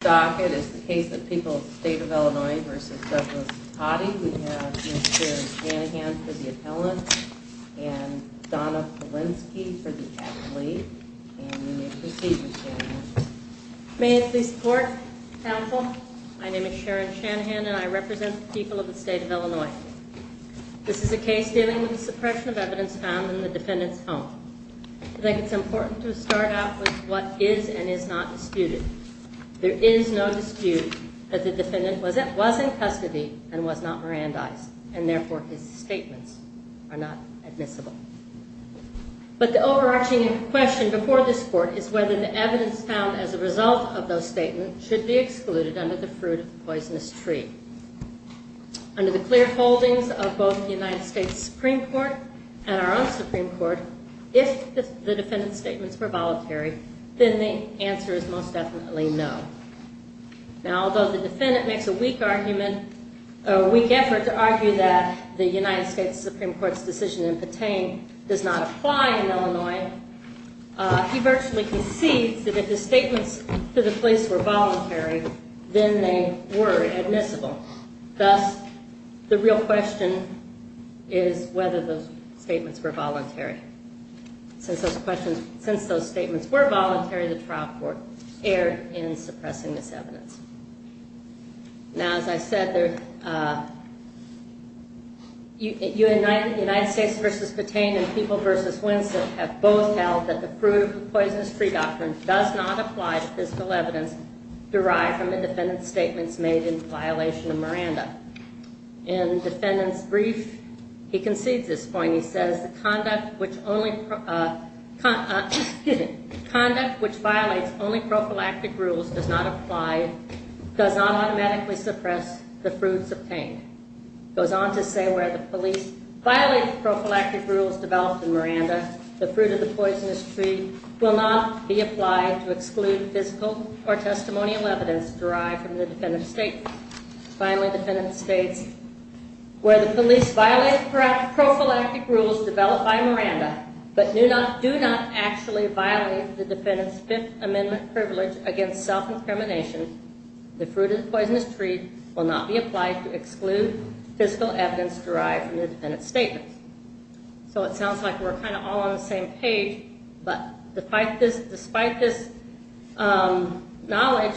Docket is the case of People of the State of Illinois v. Douglas Totty. We have Ms. Sharon Shanahan for the appellant and Donna Polinsky for the athlete. And you may proceed, Ms. Shanahan. May I please report, counsel? My name is Sharon Shanahan and I represent the people of the State of Illinois. This is a case dealing with the suppression of evidence found in the defendant's home. I think it's important to start out with what is and is not disputed. There is no dispute that the defendant was in custody and was not Mirandized and therefore his statements are not admissible. But the overarching question before this court is whether the evidence found as a result of those statements should be excluded under the fruit of the poisonous tree. Under the clear holdings of both the United States Supreme Court and our own Supreme Court, if the defendant's statements were voluntary, then the answer is most definitely no. Now, although the defendant makes a weak argument, a weak effort to argue that the United States Supreme Court's decision in Petain does not apply in Illinois, he virtually concedes that if his statements to the police were voluntary, then they were admissible. Thus, the real question is whether those statements were voluntary. Since those statements were voluntary, the trial court erred in suppressing this evidence. Now, as I said, United States v. Petain and People v. Winsett have both held that the fruit of the poisonous tree doctrine does not apply to physical evidence derived from the defendant's statements made in violation of Miranda. In the defendant's brief, he concedes this point. He says, conduct which violates only prophylactic rules does not apply, does not automatically suppress the fruits obtained. He goes on to say, where the police violate the prophylactic rules developed in Miranda, the fruit of the poisonous tree will not be applied to exclude physical or testimonial evidence derived from the defendant's statements. Finally, the defendant states, where the police violate the prophylactic rules developed by Miranda, but do not actually violate the defendant's Fifth Amendment privilege against self-incrimination, the fruit of the poisonous tree will not be applied to exclude physical evidence derived from the defendant's statements. So it sounds like we're kind of all on the same page, but despite this knowledge,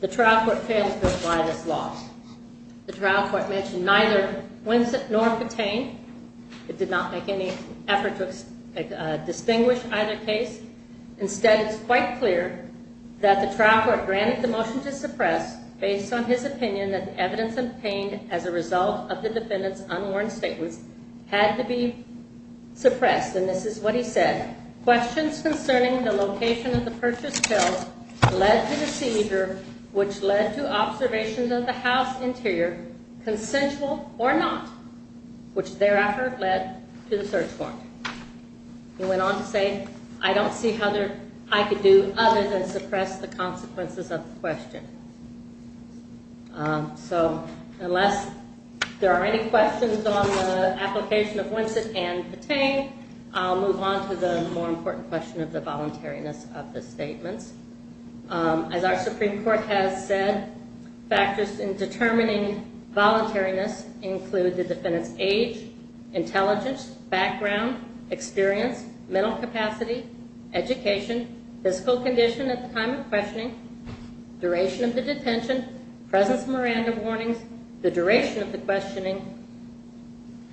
the trial court fails to apply this law. The trial court mentioned neither Winsett nor Petain. It did not make any effort to distinguish either case. Instead, it's quite clear that the trial court granted the motion to suppress based on his opinion that the evidence obtained as a result of the defendant's unwarned statements had to be suppressed. Next, and this is what he said, questions concerning the location of the purchased pills led to the seizure, which led to observations of the house interior, consensual or not, which thereafter led to the search warrant. He went on to say, I don't see how I could do other than suppress the consequences of the question. So unless there are any questions on the application of Winsett and Petain, I'll move on to the more important question of the voluntariness of the statements. As our Supreme Court has said, factors in determining voluntariness include the defendant's age, intelligence, background, experience, mental capacity, education, physical condition at the time of questioning, duration of the detention, presence of Miranda warnings, the duration of the questioning,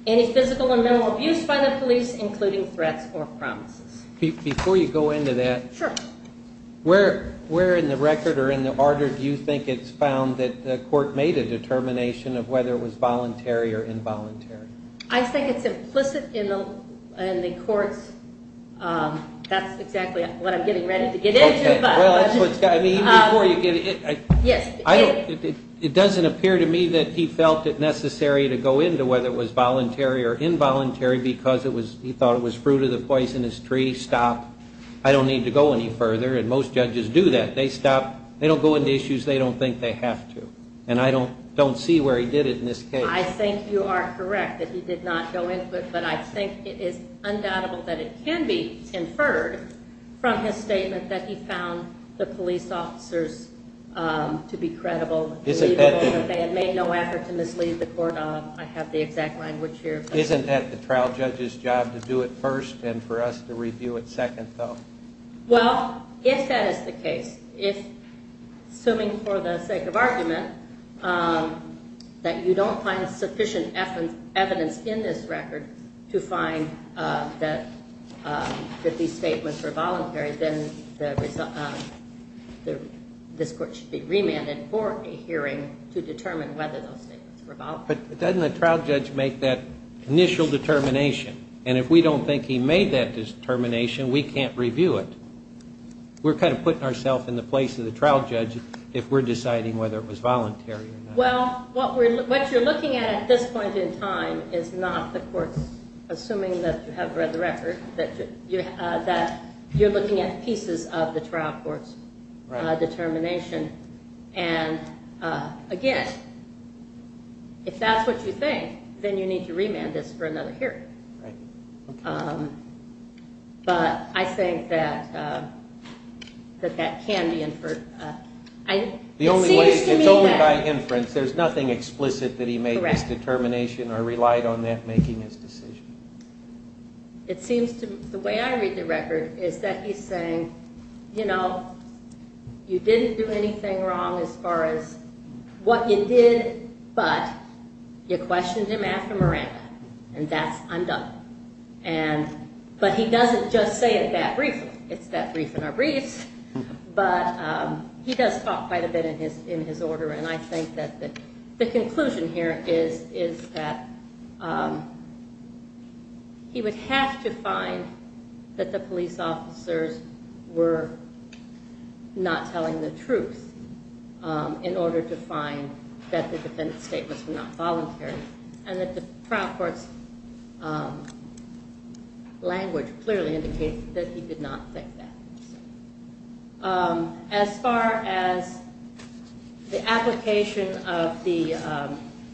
any physical and mental abuse by the police, including threats or promises. Before you go into that, where in the record or in the order do you think it's found that the court made a determination of whether it was voluntary or involuntary? I think it's implicit in the court's, that's exactly what I'm getting ready to get into. It doesn't appear to me that he felt it necessary to go into whether it was voluntary or involuntary because he thought it was fruit of the poisonous tree, stop, I don't need to go any further, and most judges do that. They stop, they don't go into issues they don't think they have to, and I don't see where he did it in this case. I think you are correct that he did not go into it, but I think it is undoubtable that it can be inferred from his statement that he found the police officers to be credible, believable, that they had made no effort to mislead the court. I have the exact language here. Isn't that the trial judge's job to do it first and for us to review it second, though? Well, if that is the case, if, assuming for the sake of argument, that you don't find sufficient evidence in this record to find that these statements were voluntary, then this court should be remanded for a hearing to determine whether those statements were voluntary. But doesn't the trial judge make that initial determination? And if we don't think he made that determination, we can't review it. We're kind of putting ourselves in the place of the trial judge if we're deciding whether it was voluntary or not. Well, what you're looking at at this point in time is not the court's, assuming that you have read the record, that you're looking at pieces of the trial court's determination. And, again, if that's what you think, then you need to remand this for another hearing. Right. But I think that that can be inferred. It seems to me that... It's only by inference. There's nothing explicit that he made this determination or relied on that making his decision. It seems to me... The way I read the record is that he's saying, you know, you didn't do anything wrong as far as what you did, but you questioned him after Miranda. And that's undone. But he doesn't just say it that briefly. It's that brief in our briefs. But he does talk quite a bit in his order. And I think that the conclusion here is that he would have to find that the police officers were not telling the truth in order to find that the defense statements were not voluntary. And that the trial court's language clearly indicates that he did not think that. As far as the application of the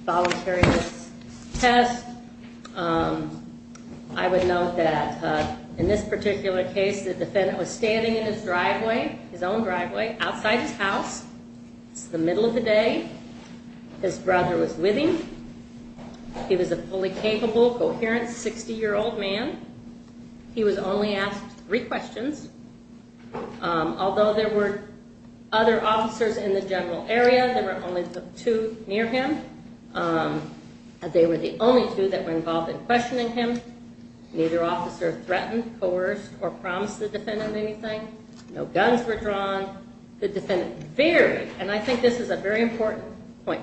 voluntariness test, I would note that in this particular case, the defendant was standing in his driveway, his own driveway, outside his house. It's the middle of the day. His brother was with him. He was a fully capable, coherent 60-year-old man. He was only asked three questions. Although there were other officers in the general area, there were only the two near him. They were the only two that were involved in questioning him. Neither officer threatened, coerced, or promised the defendant anything. No guns were drawn. The defendant very... And I think this is a very important point.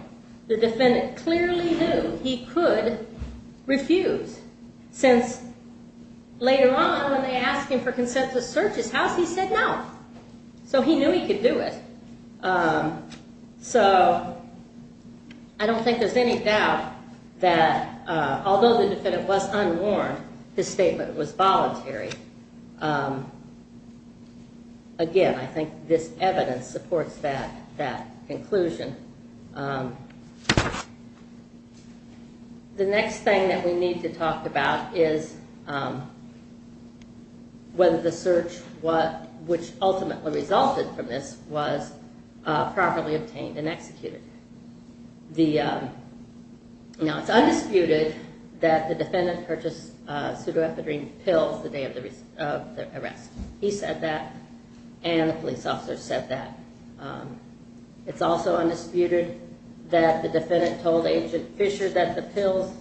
The defendant clearly knew he could refuse, since later on when they asked him for consent to search his house, he said no. So he knew he could do it. So I don't think there's any doubt that although the defendant was unwarned, his statement was voluntary. Again, I think this evidence supports that conclusion. The next thing that we need to talk about is whether the search, which ultimately resulted from this, was properly obtained and executed. Now, it's undisputed that the defendant purchased pseudoepidermic pills the day of the arrest. He said that, and the police officer said that. It's also undisputed that the defendant told Agent Fisher that the pills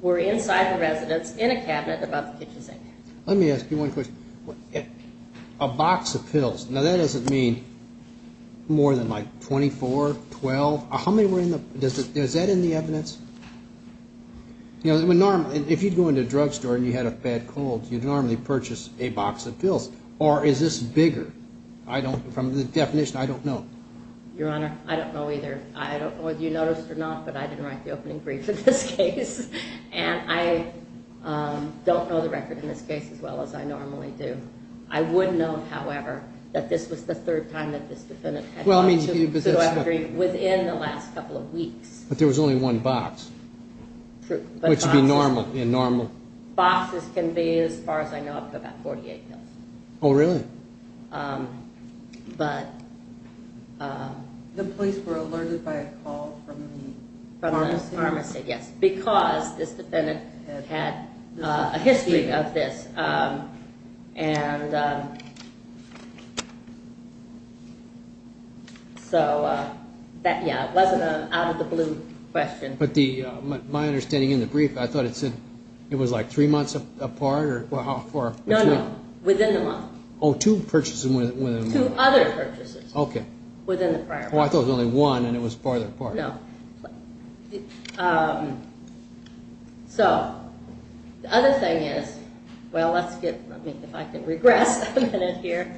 were inside the residence in a cabinet above the kitchen sink. Let me ask you one question. A box of pills, now that doesn't mean more than like 24, 12. How many were in the... Is that in the evidence? If you'd go into a drugstore and you had a bad cold, you'd normally purchase a box of pills. Or is this bigger? From the definition, I don't know. Your Honor, I don't know either. I don't know whether you noticed or not, but I didn't write the opening brief in this case. And I don't know the record in this case as well as I normally do. I would know, however, that this was the third time that this defendant had bought pseudoepidermic within the last couple of weeks. But there was only one box. True. Which would be normal. Boxes can be, as far as I know, up to about 48 pills. Oh, really? But... The police were alerted by a call from the pharmacy? From the pharmacy, yes, because this defendant had a history of this. So, yeah, it wasn't an out-of-the-blue question. But my understanding in the brief, I thought it said it was like three months apart or how far? No, no, within the month. Oh, two purchases within the month. Two other purchases. Okay. Within the prior month. Oh, I thought it was only one and it was farther apart. No. So, the other thing is, well, let's get, let me, if I can regress a minute here.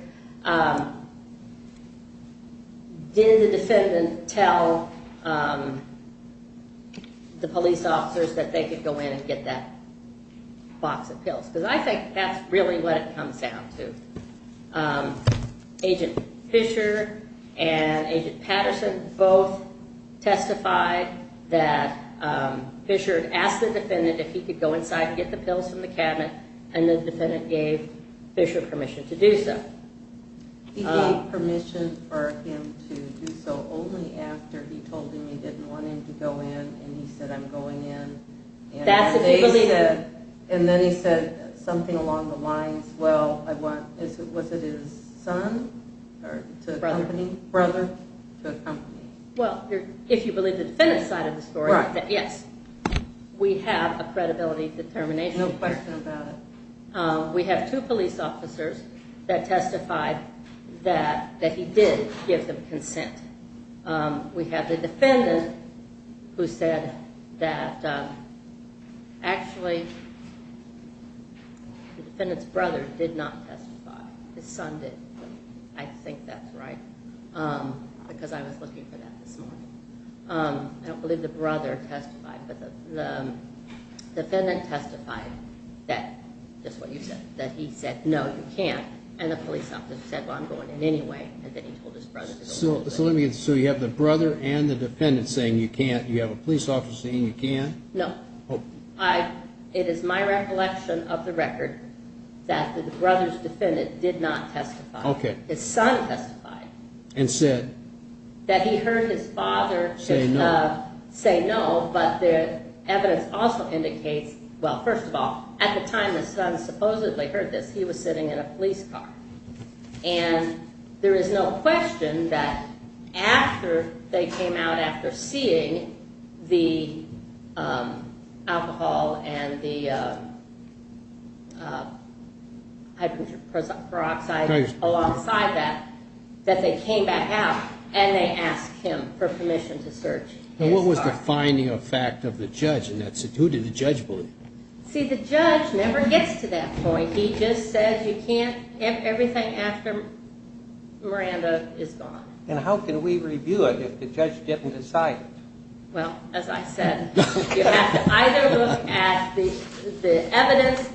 Did the defendant tell the police officers that they could go in and get that box of pills? Because I think that's really what it comes down to. Agent Fischer and Agent Patterson both testified that Fischer asked the defendant if he could go inside and get the pills from the cabinet, and the defendant gave Fischer permission to do so. He gave permission for him to do so only after he told him he didn't want him to go in and he said, I'm going in. And then he said something along the lines, well, I want, was it his son to accompany? Brother. Brother to accompany. Well, if you believe the defendant's side of the story, yes, we have a credibility determination. No question about it. We have two police officers that testified that he did give them consent. We have the defendant who said that actually the defendant's brother did not testify. His son did. I think that's right because I was looking for that this morning. I don't believe the brother testified, but the defendant testified that, just what you said, that he said, no, you can't. And the police officer said, well, I'm going in anyway, and then he told his brother to go in. So you have the brother and the defendant saying you can't. You have a police officer saying you can. No. It is my recollection of the record that the brother's defendant did not testify. Okay. His son testified. And said? That he heard his father say no, but the evidence also indicates, well, first of all, at the time his son supposedly heard this, he was sitting in a police car. And there is no question that after they came out after seeing the alcohol and the hydrogen peroxide alongside that, that they came back out and they asked him for permission to search his car. And what was the finding of fact of the judge in that? Who did the judge believe? See, the judge never gets to that point. He just said you can't, everything after Miranda is gone. And how can we review it if the judge didn't decide? Well, as I said, you have to either look at the evidence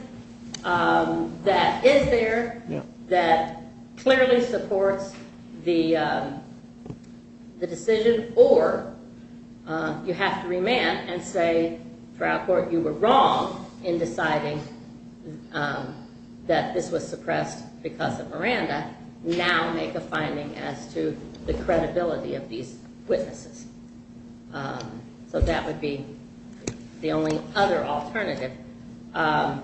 that is there, that clearly supports the decision, or you have to remand and say throughout court you were wrong in deciding that this was suppressed because of Miranda. You have to now make a finding as to the credibility of these witnesses. So that would be the only other alternative. But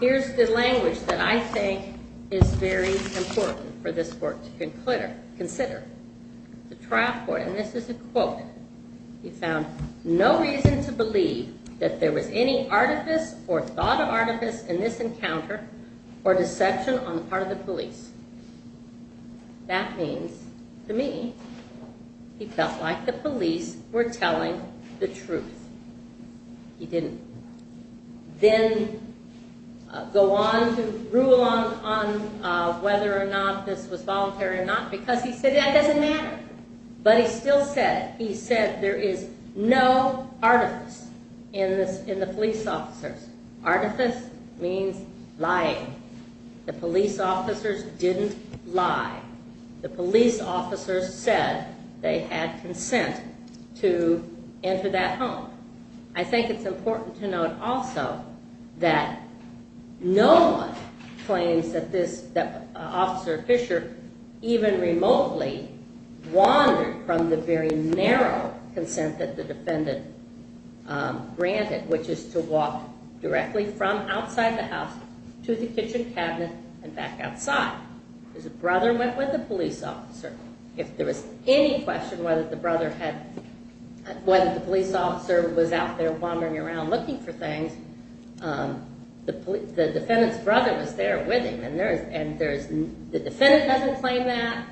here's the language that I think is very important for this court to consider. The trial court, and this is a quote, he found no reason to believe that there was any artifice or thought of artifice in this encounter or deception on the part of the police. That means, to me, he felt like the police were telling the truth. He didn't then go on to rule on whether or not this was voluntary or not because he said that doesn't matter. But he still said it. He said there is no artifice in the police officers. Artifice means lying. The police officers didn't lie. The police officers said they had consent to enter that home. I think it's important to note also that no one claims that Officer Fisher even remotely wandered from the very narrow consent that the defendant granted, which is to walk directly from outside the house to the kitchen cabinet and back outside. His brother went with the police officer. If there was any question whether the police officer was out there wandering around looking for things, the defendant's brother was there with him. The defendant doesn't claim that.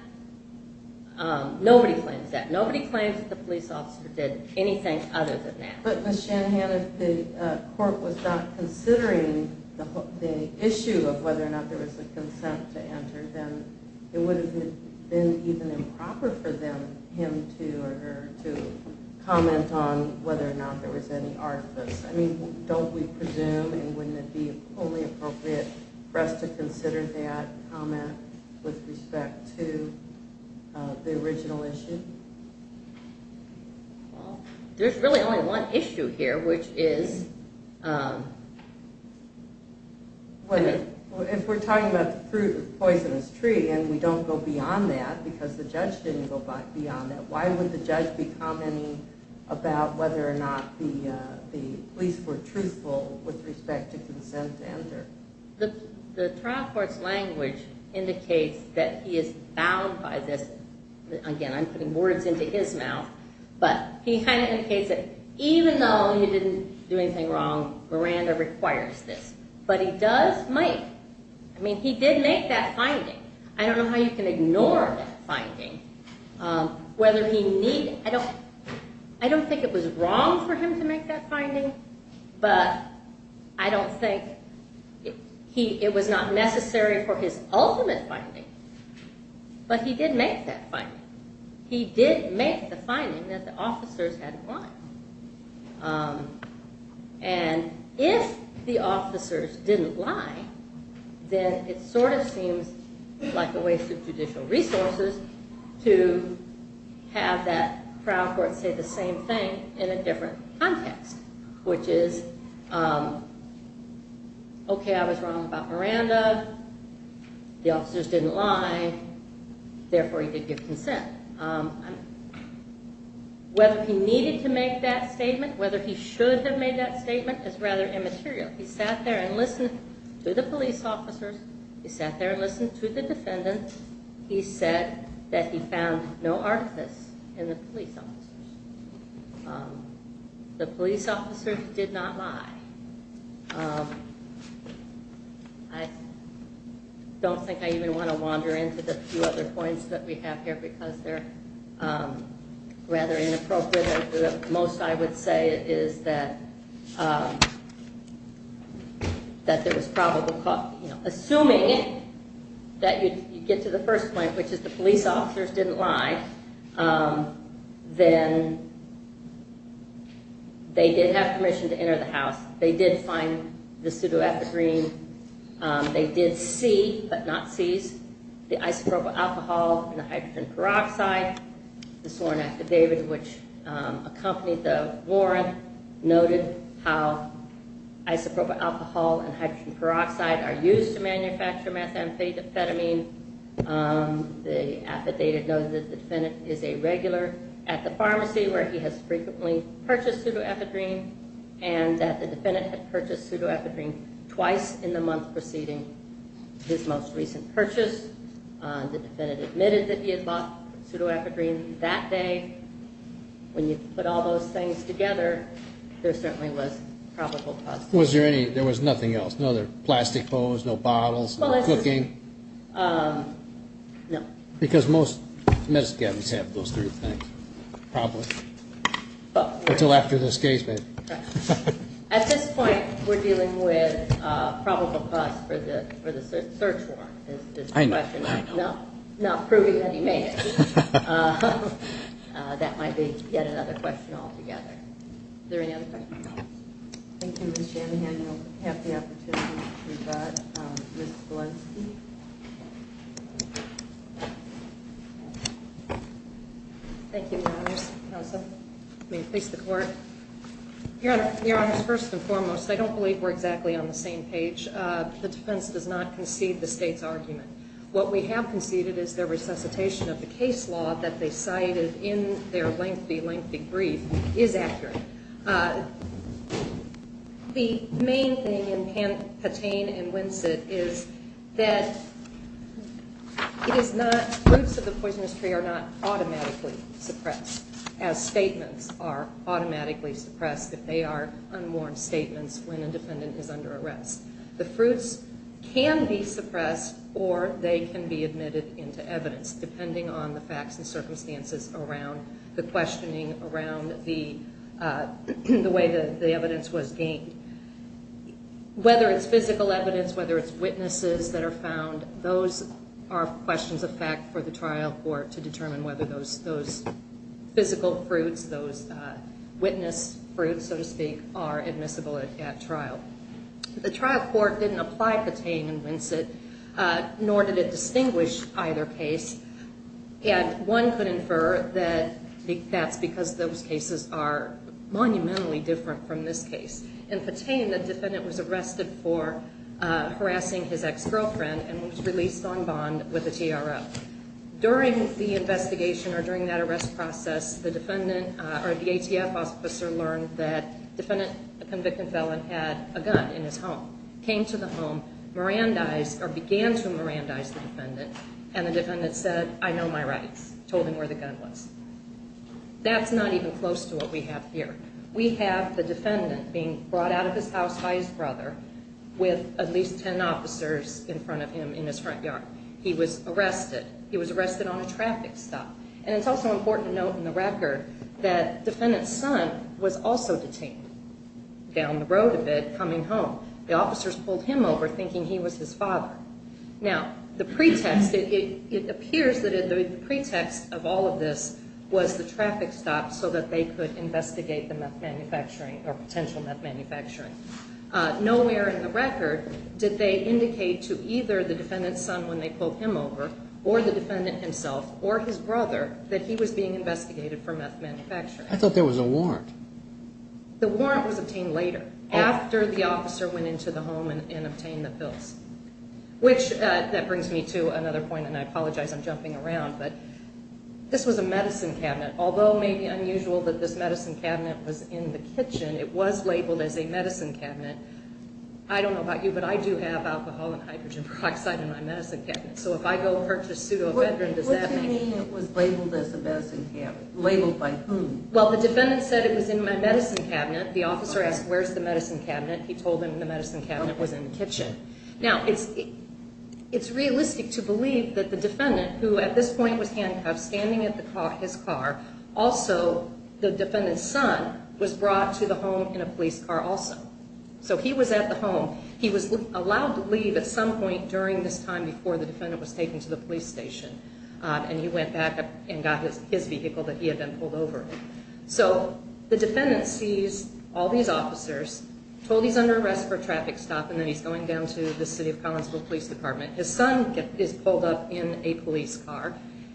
Nobody claims that. Nobody claims that the police officer did anything other than that. But Ms. Shanahan, if the court was not considering the issue of whether or not there was a consent to enter, then it would have been even improper for him to comment on whether or not there was any artifice. I mean, don't we presume, and wouldn't it be wholly appropriate for us to consider that comment with respect to the original issue? Well, there's really only one issue here, which is… If we're talking about the poisonous tree and we don't go beyond that because the judge didn't go beyond that, why would the judge be commenting about whether or not the police were truthful with respect to consent to enter? The trial court's language indicates that he is bound by this. Again, I'm putting words into his mouth, but he kind of indicates that even though he didn't do anything wrong, Miranda requires this. But he does make… I mean, he did make that finding. I don't know how you can ignore that finding. I don't think it was wrong for him to make that finding, but I don't think it was not necessary for his ultimate finding. But he did make that finding. He did make the finding that the officers had lied. And if the officers didn't lie, then it sort of seems like a waste of judicial resources to have that trial court say the same thing in a different context, which is, okay, I was wrong about Miranda. The officers didn't lie. Therefore, he did give consent. Whether he needed to make that statement, whether he should have made that statement is rather immaterial. He sat there and listened to the police officers. He sat there and listened to the defendant. He said that he found no artifice in the police officers. The police officers did not lie. I don't think I even want to wander into the few other points that we have here because they're rather inappropriate. The most I would say is that there was probable cause. Assuming that you get to the first point, which is the police officers didn't lie, then they did have permission to enter the house. They did find the pseudoepigrine. They did see, but not seize, the isopropyl alcohol and the hydrogen peroxide. The sworn affidavit, which accompanied the warrant, noted how isopropyl alcohol and hydrogen peroxide are used to manufacture methamphetamine. The affidavit noted that the defendant is a regular at the pharmacy, where he has frequently purchased pseudoepigrine, and that the defendant had purchased pseudoepigrine twice in the month preceding his most recent purchase. The defendant admitted that he had bought pseudoepigrine that day. When you put all those things together, there certainly was probable cause. Was there any, there was nothing else? No other plastic bowls, no bottles, no cooking? No. Because most medicine cabinets have those three things, probably. Until after this case, maybe. At this point, we're dealing with probable cause for the search warrant. I know, I know. Not proving that he made it. That might be yet another question altogether. Is there any other questions? Thank you, Ms. Jamihan. You'll have the opportunity to rebut Ms. Walensky. Thank you, Your Honors. May it please the Court. Your Honors, first and foremost, I don't believe we're exactly on the same page. The defense does not concede the State's argument. What we have conceded is the resuscitation of the case law that they cited in their lengthy, lengthy brief is accurate. The main thing in Patain and Winsett is that it is not, roots of the poisonous tree are not automatically suppressed as statements are automatically suppressed if they are unworn statements when a defendant is under arrest. The fruits can be suppressed or they can be admitted into evidence, depending on the facts and circumstances around the questioning, around the way the evidence was gained. Whether it's physical evidence, whether it's witnesses that are found, those are questions of fact for the trial court to determine whether those physical fruits, those witness fruits, so to speak, are admissible at trial. The trial court didn't apply Patain and Winsett, nor did it distinguish either case. And one could infer that that's because those cases are monumentally different from this case. In Patain, the defendant was arrested for harassing his ex-girlfriend and was released on bond with the TRO. During the investigation or during that arrest process, the ATF officer learned that the defendant, the convicted felon, had a gun in his home, came to the home, began to Mirandize the defendant, and the defendant said, I know my rights, told him where the gun was. That's not even close to what we have here. We have the defendant being brought out of his house by his brother with at least 10 officers in front of him in his front yard. He was arrested. He was arrested on a traffic stop. And it's also important to note in the record that defendant's son was also detained down the road a bit coming home. The officers pulled him over thinking he was his father. Now, the pretext, it appears that the pretext of all of this was the traffic stop so that they could investigate the meth manufacturing or potential meth manufacturing. Nowhere in the record did they indicate to either the defendant's son when they pulled him over or the defendant himself or his brother that he was being investigated for meth manufacturing. I thought there was a warrant. The warrant was obtained later, after the officer went into the home and obtained the pills, which that brings me to another point, and I apologize I'm jumping around, but this was a medicine cabinet. Although it may be unusual that this medicine cabinet was in the kitchen, it was labeled as a medicine cabinet. I don't know about you, but I do have alcohol and hydrogen peroxide in my medicine cabinet. So if I go purchase pseudoephedrine, does that mean? What do you mean it was labeled as a medicine cabinet? Labeled by whom? Well, the defendant said it was in my medicine cabinet. The officer asked, Where's the medicine cabinet? He told them the medicine cabinet was in the kitchen. Now, it's realistic to believe that the defendant, who at this point was handcuffed, standing at his car, also the defendant's son was brought to the home in a police car also. So he was at the home. He was allowed to leave at some point during this time before the defendant was taken to the police station, and he went back and got his vehicle that he had been pulled over in. So the defendant sees all these officers, told he's under arrest for a traffic stop, and then he's going down to the City of Collinsville Police Department. His son is pulled up in a police car,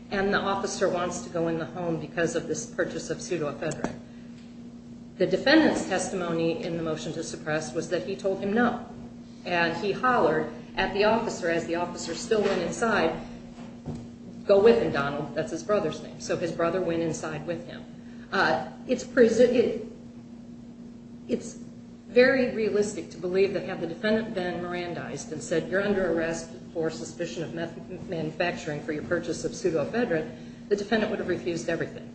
and the officer wants to go in the home because of this purchase of pseudoephedrine. The defendant's testimony in the motion to suppress was that he told him no, and he hollered at the officer as the officer still went inside, Go with him, Donald. That's his brother's name. So his brother went inside with him. It's very realistic to believe that had the defendant been Mirandized and said you're under arrest for suspicion of manufacturing for your purchase of pseudoephedrine, the defendant would have refused everything.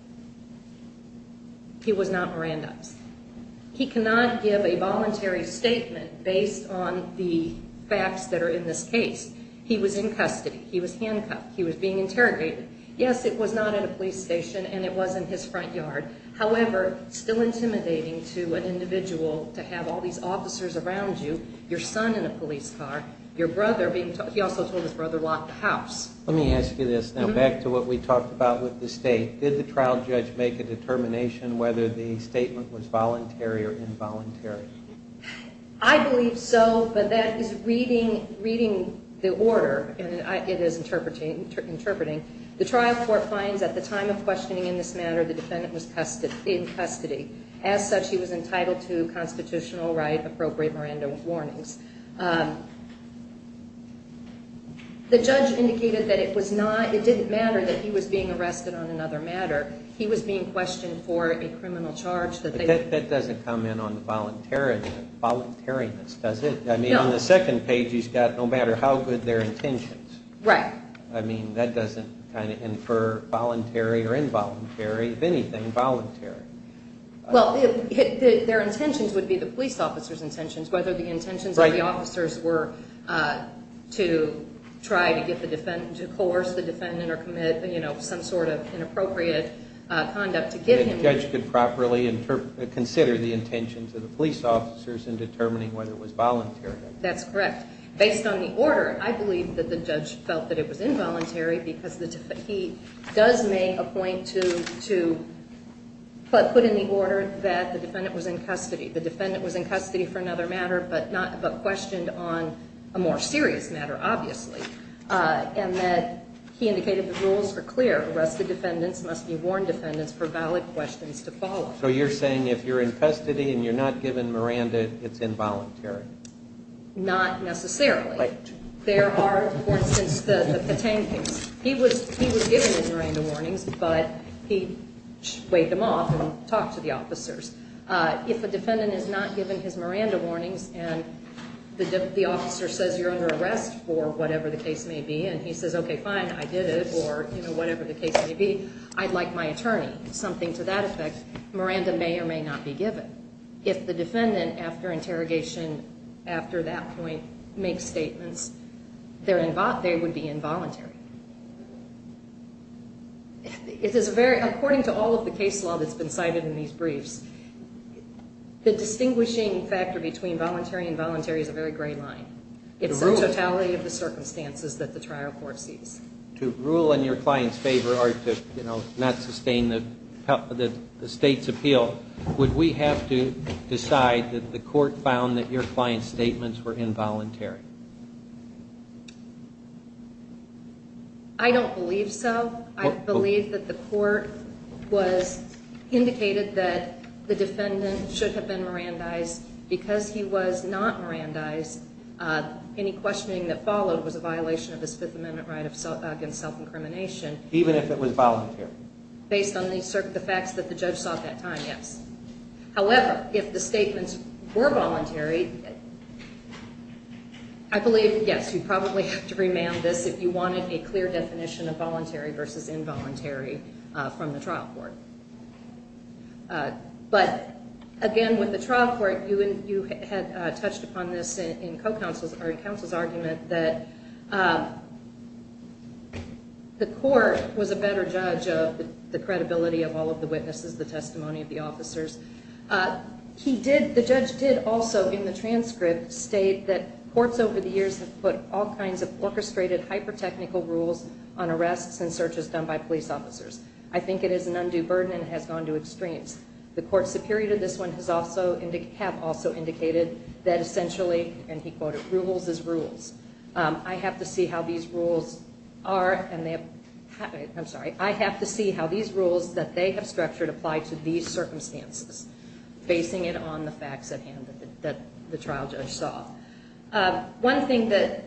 He was not Mirandized. He cannot give a voluntary statement based on the facts that are in this case. He was in custody. He was handcuffed. He was being interrogated. Yes, it was not at a police station, and it wasn't his front yard. However, it's still intimidating to an individual to have all these officers around you, your son in a police car, your brother being told, he also told his brother, lock the house. Let me ask you this now, back to what we talked about with the state. Did the trial judge make a determination whether the statement was voluntary or involuntary? I believe so, but that is reading the order, and it is interpreting. The trial court finds at the time of questioning in this matter, the defendant was in custody. As such, he was entitled to constitutional right appropriate Miranda warnings. The judge indicated that it didn't matter that he was being arrested on another matter. He was being questioned for a criminal charge. But that doesn't come in on the voluntariness, does it? No. I mean, on the second page, he's got no matter how good their intentions. Right. I mean, that doesn't kind of infer voluntary or involuntary, if anything, voluntary. Well, their intentions would be the police officer's intentions, whether the intentions are voluntary. Right. The officers were to try to get the defendant, to coerce the defendant or commit some sort of inappropriate conduct to get him. The judge could properly consider the intentions of the police officers in determining whether it was voluntary. That's correct. Based on the order, I believe that the judge felt that it was involuntary because he does make a point to put in the order that the defendant was in custody. The defendant was in custody for another matter, but questioned on a more serious matter, obviously. And that he indicated the rules were clear. Arrested defendants must be warned defendants for valid questions to follow. So you're saying if you're in custody and you're not given Miranda, it's involuntary? Not necessarily. Right. There are, for instance, the Petain case. He was given his Miranda warnings, but he weighed them off and talked to the officers. If a defendant is not given his Miranda warnings and the officer says you're under arrest for whatever the case may be, and he says, okay, fine, I did it, or whatever the case may be, I'd like my attorney. Something to that effect, Miranda may or may not be given. If the defendant, after interrogation, after that point, makes statements, they would be involuntary. According to all of the case law that's been cited in these briefs, the distinguishing factor between voluntary and involuntary is a very gray line. It's the totality of the circumstances that the trial court sees. To rule in your client's favor or to not sustain the state's appeal, would we have to decide that the court found that your client's statements were involuntary? I don't believe so. I believe that the court indicated that the defendant should have been Mirandized. Because he was not Mirandized, any questioning that followed was a violation of his Fifth Amendment right against self-incrimination. Even if it was voluntary? Based on the facts that the judge sought at that time, yes. However, if the statements were voluntary, I believe, yes, you'd probably have to remand this if you wanted a clear definition of voluntary versus involuntary from the trial court. But, again, with the trial court, you had touched upon this in counsel's argument that the court was a better judge of the credibility of all of the witnesses, the testimony of the officers. The judge did also, in the transcript, state that courts over the years have put all kinds of orchestrated, hyper-technical rules on arrests and searches done by police officers. I think it is an undue burden, and it has gone to extremes. The court superior to this one have also indicated that essentially, and he quoted, rules is rules. I have to see how these rules are, and they have, I'm sorry, I have to see how these rules that they have structured apply to these circumstances, basing it on the facts at hand that the trial judge sought. One thing that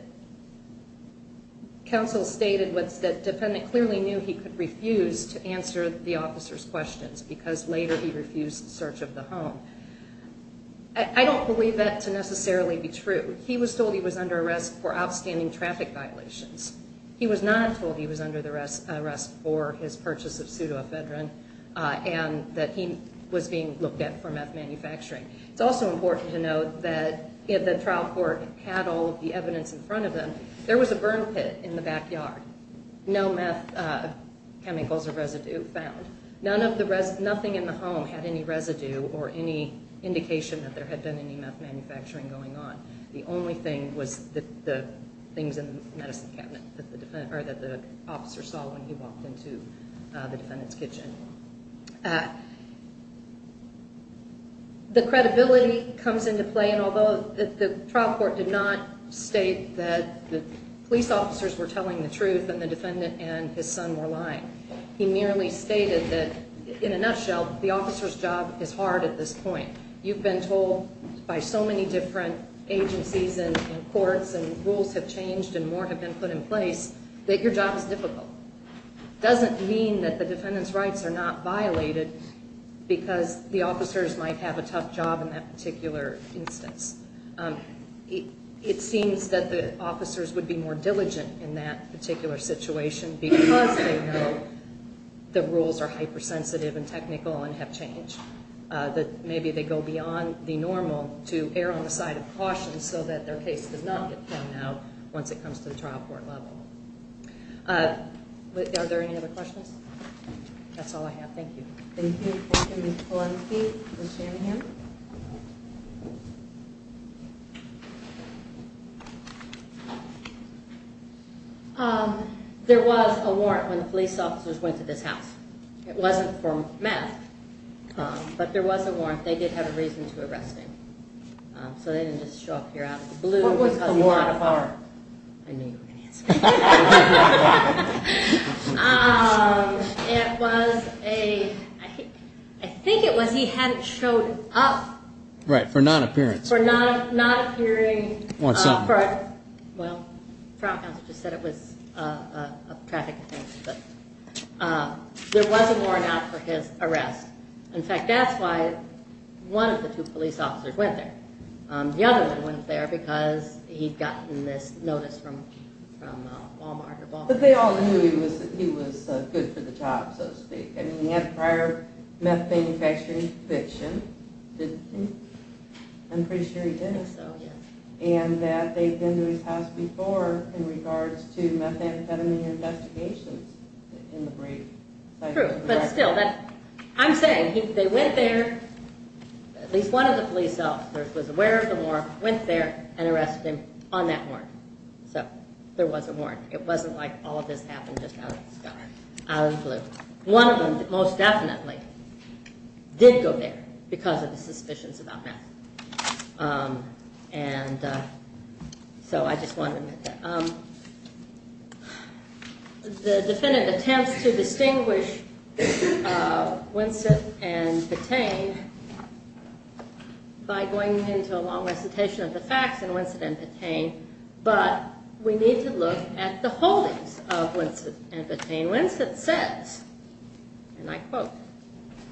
counsel stated was that defendant clearly knew he could refuse to answer the officer's questions because later he refused search of the home. I don't believe that to necessarily be true. He was told he was under arrest for outstanding traffic violations. He was not told he was under arrest for his purchase of pseudoephedrine and that he was being looked at for meth manufacturing. It's also important to note that the trial court had all of the evidence in front of them. There was a burn pit in the backyard. No meth chemicals or residue found. Nothing in the home had any residue or any indication that there had been any meth manufacturing going on. The only thing was the things in the medicine cabinet that the officer saw when he walked into the defendant's kitchen. The credibility comes into play, and although the trial court did not state that the police officers were telling the truth and the defendant and his son were lying, he merely stated that, in a nutshell, the officer's job is hard at this point. You've been told by so many different agencies and courts and rules have changed and more have been put in place that your job is difficult. It doesn't mean that the defendant's rights are not violated because the officers might have a tough job in that particular instance. It seems that the officers would be more diligent in that particular situation because they know the rules are hypersensitive and technical and have changed. Maybe they go beyond the normal to err on the side of caution so that their case does not get found out once it comes to the trial court level. Are there any other questions? That's all I have. Thank you. There was a warrant when the police officers went to this house. It wasn't for meth, but there was a warrant. They did have a reason to arrest him, so they didn't just show up here out of the blue. What was the warrant? I knew you were going to ask me that. I think it was he hadn't showed up. Right, for non-appearance. For not appearing. Well, the trial counsel just said it was a traffic offense, but there was a warrant out for his arrest. In fact, that's why one of the two police officers went there. The other one went there because he'd gotten this notice from Walmart. But they all knew he was good for the job, so to speak. He had prior meth manufacturing conviction. I'm pretty sure he did. I think so, yes. And that they'd been to his house before in regards to methamphetamine investigations in the brief. True, but still, I'm saying they went there. At least one of the police officers was aware of the warrant, went there, and arrested him on that warrant. So there was a warrant. It wasn't like all of this happened just out of the blue. One of them most definitely did go there because of the suspicions about meth. So I just wanted to make that. The defendant attempts to distinguish Winsett and Petain by going into a long recitation of the facts in Winsett and Petain. But we need to look at the holdings of Winsett and Petain. Winsett says, and I quote,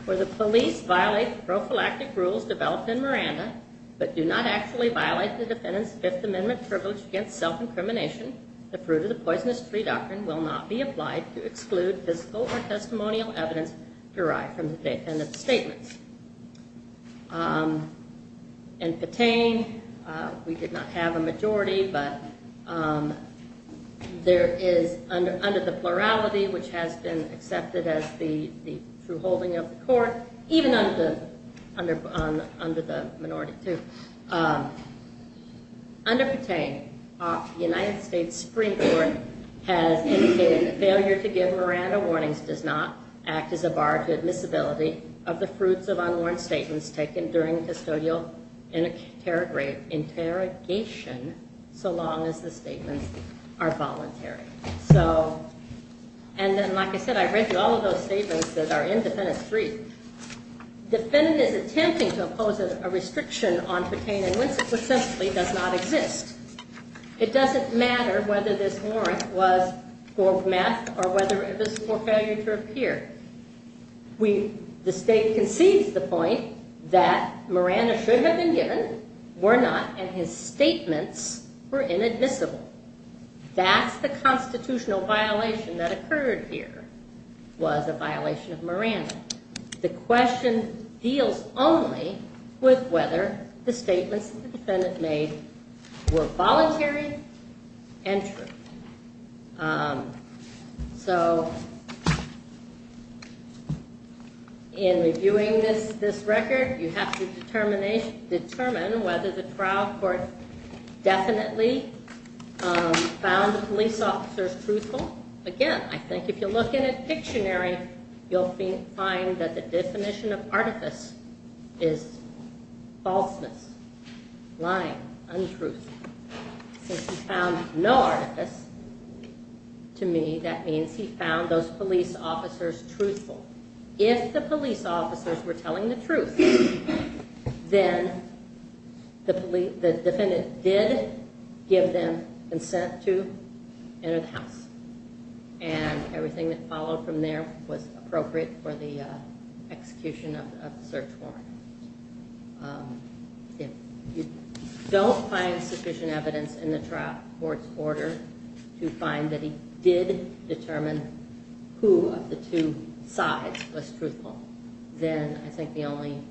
Where the police violate the prophylactic rules developed in Miranda, but do not actually violate the defendant's Fifth Amendment privilege against self-incrimination, the fruit of the poisonous tree doctrine will not be applied to exclude physical or testimonial evidence derived from the defendant's statements. And Petain, we did not have a majority, but there is, under the plurality, which has been accepted as the true holding of the court, even under the minority, too. Under Petain, the United States Supreme Court has indicated, Failure to give Miranda warnings does not act as a bar to admissibility of the fruits of unworn statements taken during custodial interrogation so long as the statements are voluntary. So, and then like I said, I read through all of those statements that are in Defendant 3. Defendant is attempting to impose a restriction on Petain and Winsett, which simply does not exist. It doesn't matter whether this warrant was for meth or whether it was for failure to appear. The state concedes the point that Miranda should have been given, were not, and his statements were inadmissible. That's the constitutional violation that occurred here, was a violation of Miranda. The question deals only with whether the statements that the defendant made were voluntary and true. So, in reviewing this record, you have to determine whether the trial court definitely found the police officers truthful. Again, I think if you look in a dictionary, you'll find that the definition of artifice is falseness, lying, untruth. Since he found no artifice, to me, that means he found those police officers truthful. If the police officers were telling the truth, then the defendant did give them consent to enter the house. And everything that followed from there was appropriate for the execution of the search warrant. If you don't find sufficient evidence in the trial court's order to find that he did determine who of the two sides was truthful, then I think the only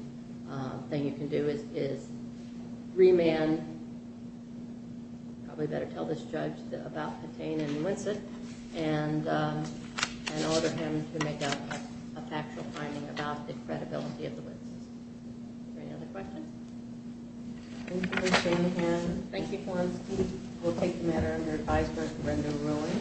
thing you can do is remand, probably better tell this judge about Petain and Winsett, and order him to make up a factual finding about the credibility of the witnesses. Is there any other questions? Thank you, Ms. Shanahan. Thank you, Florence. We'll take the matter under advisory command of the ruling.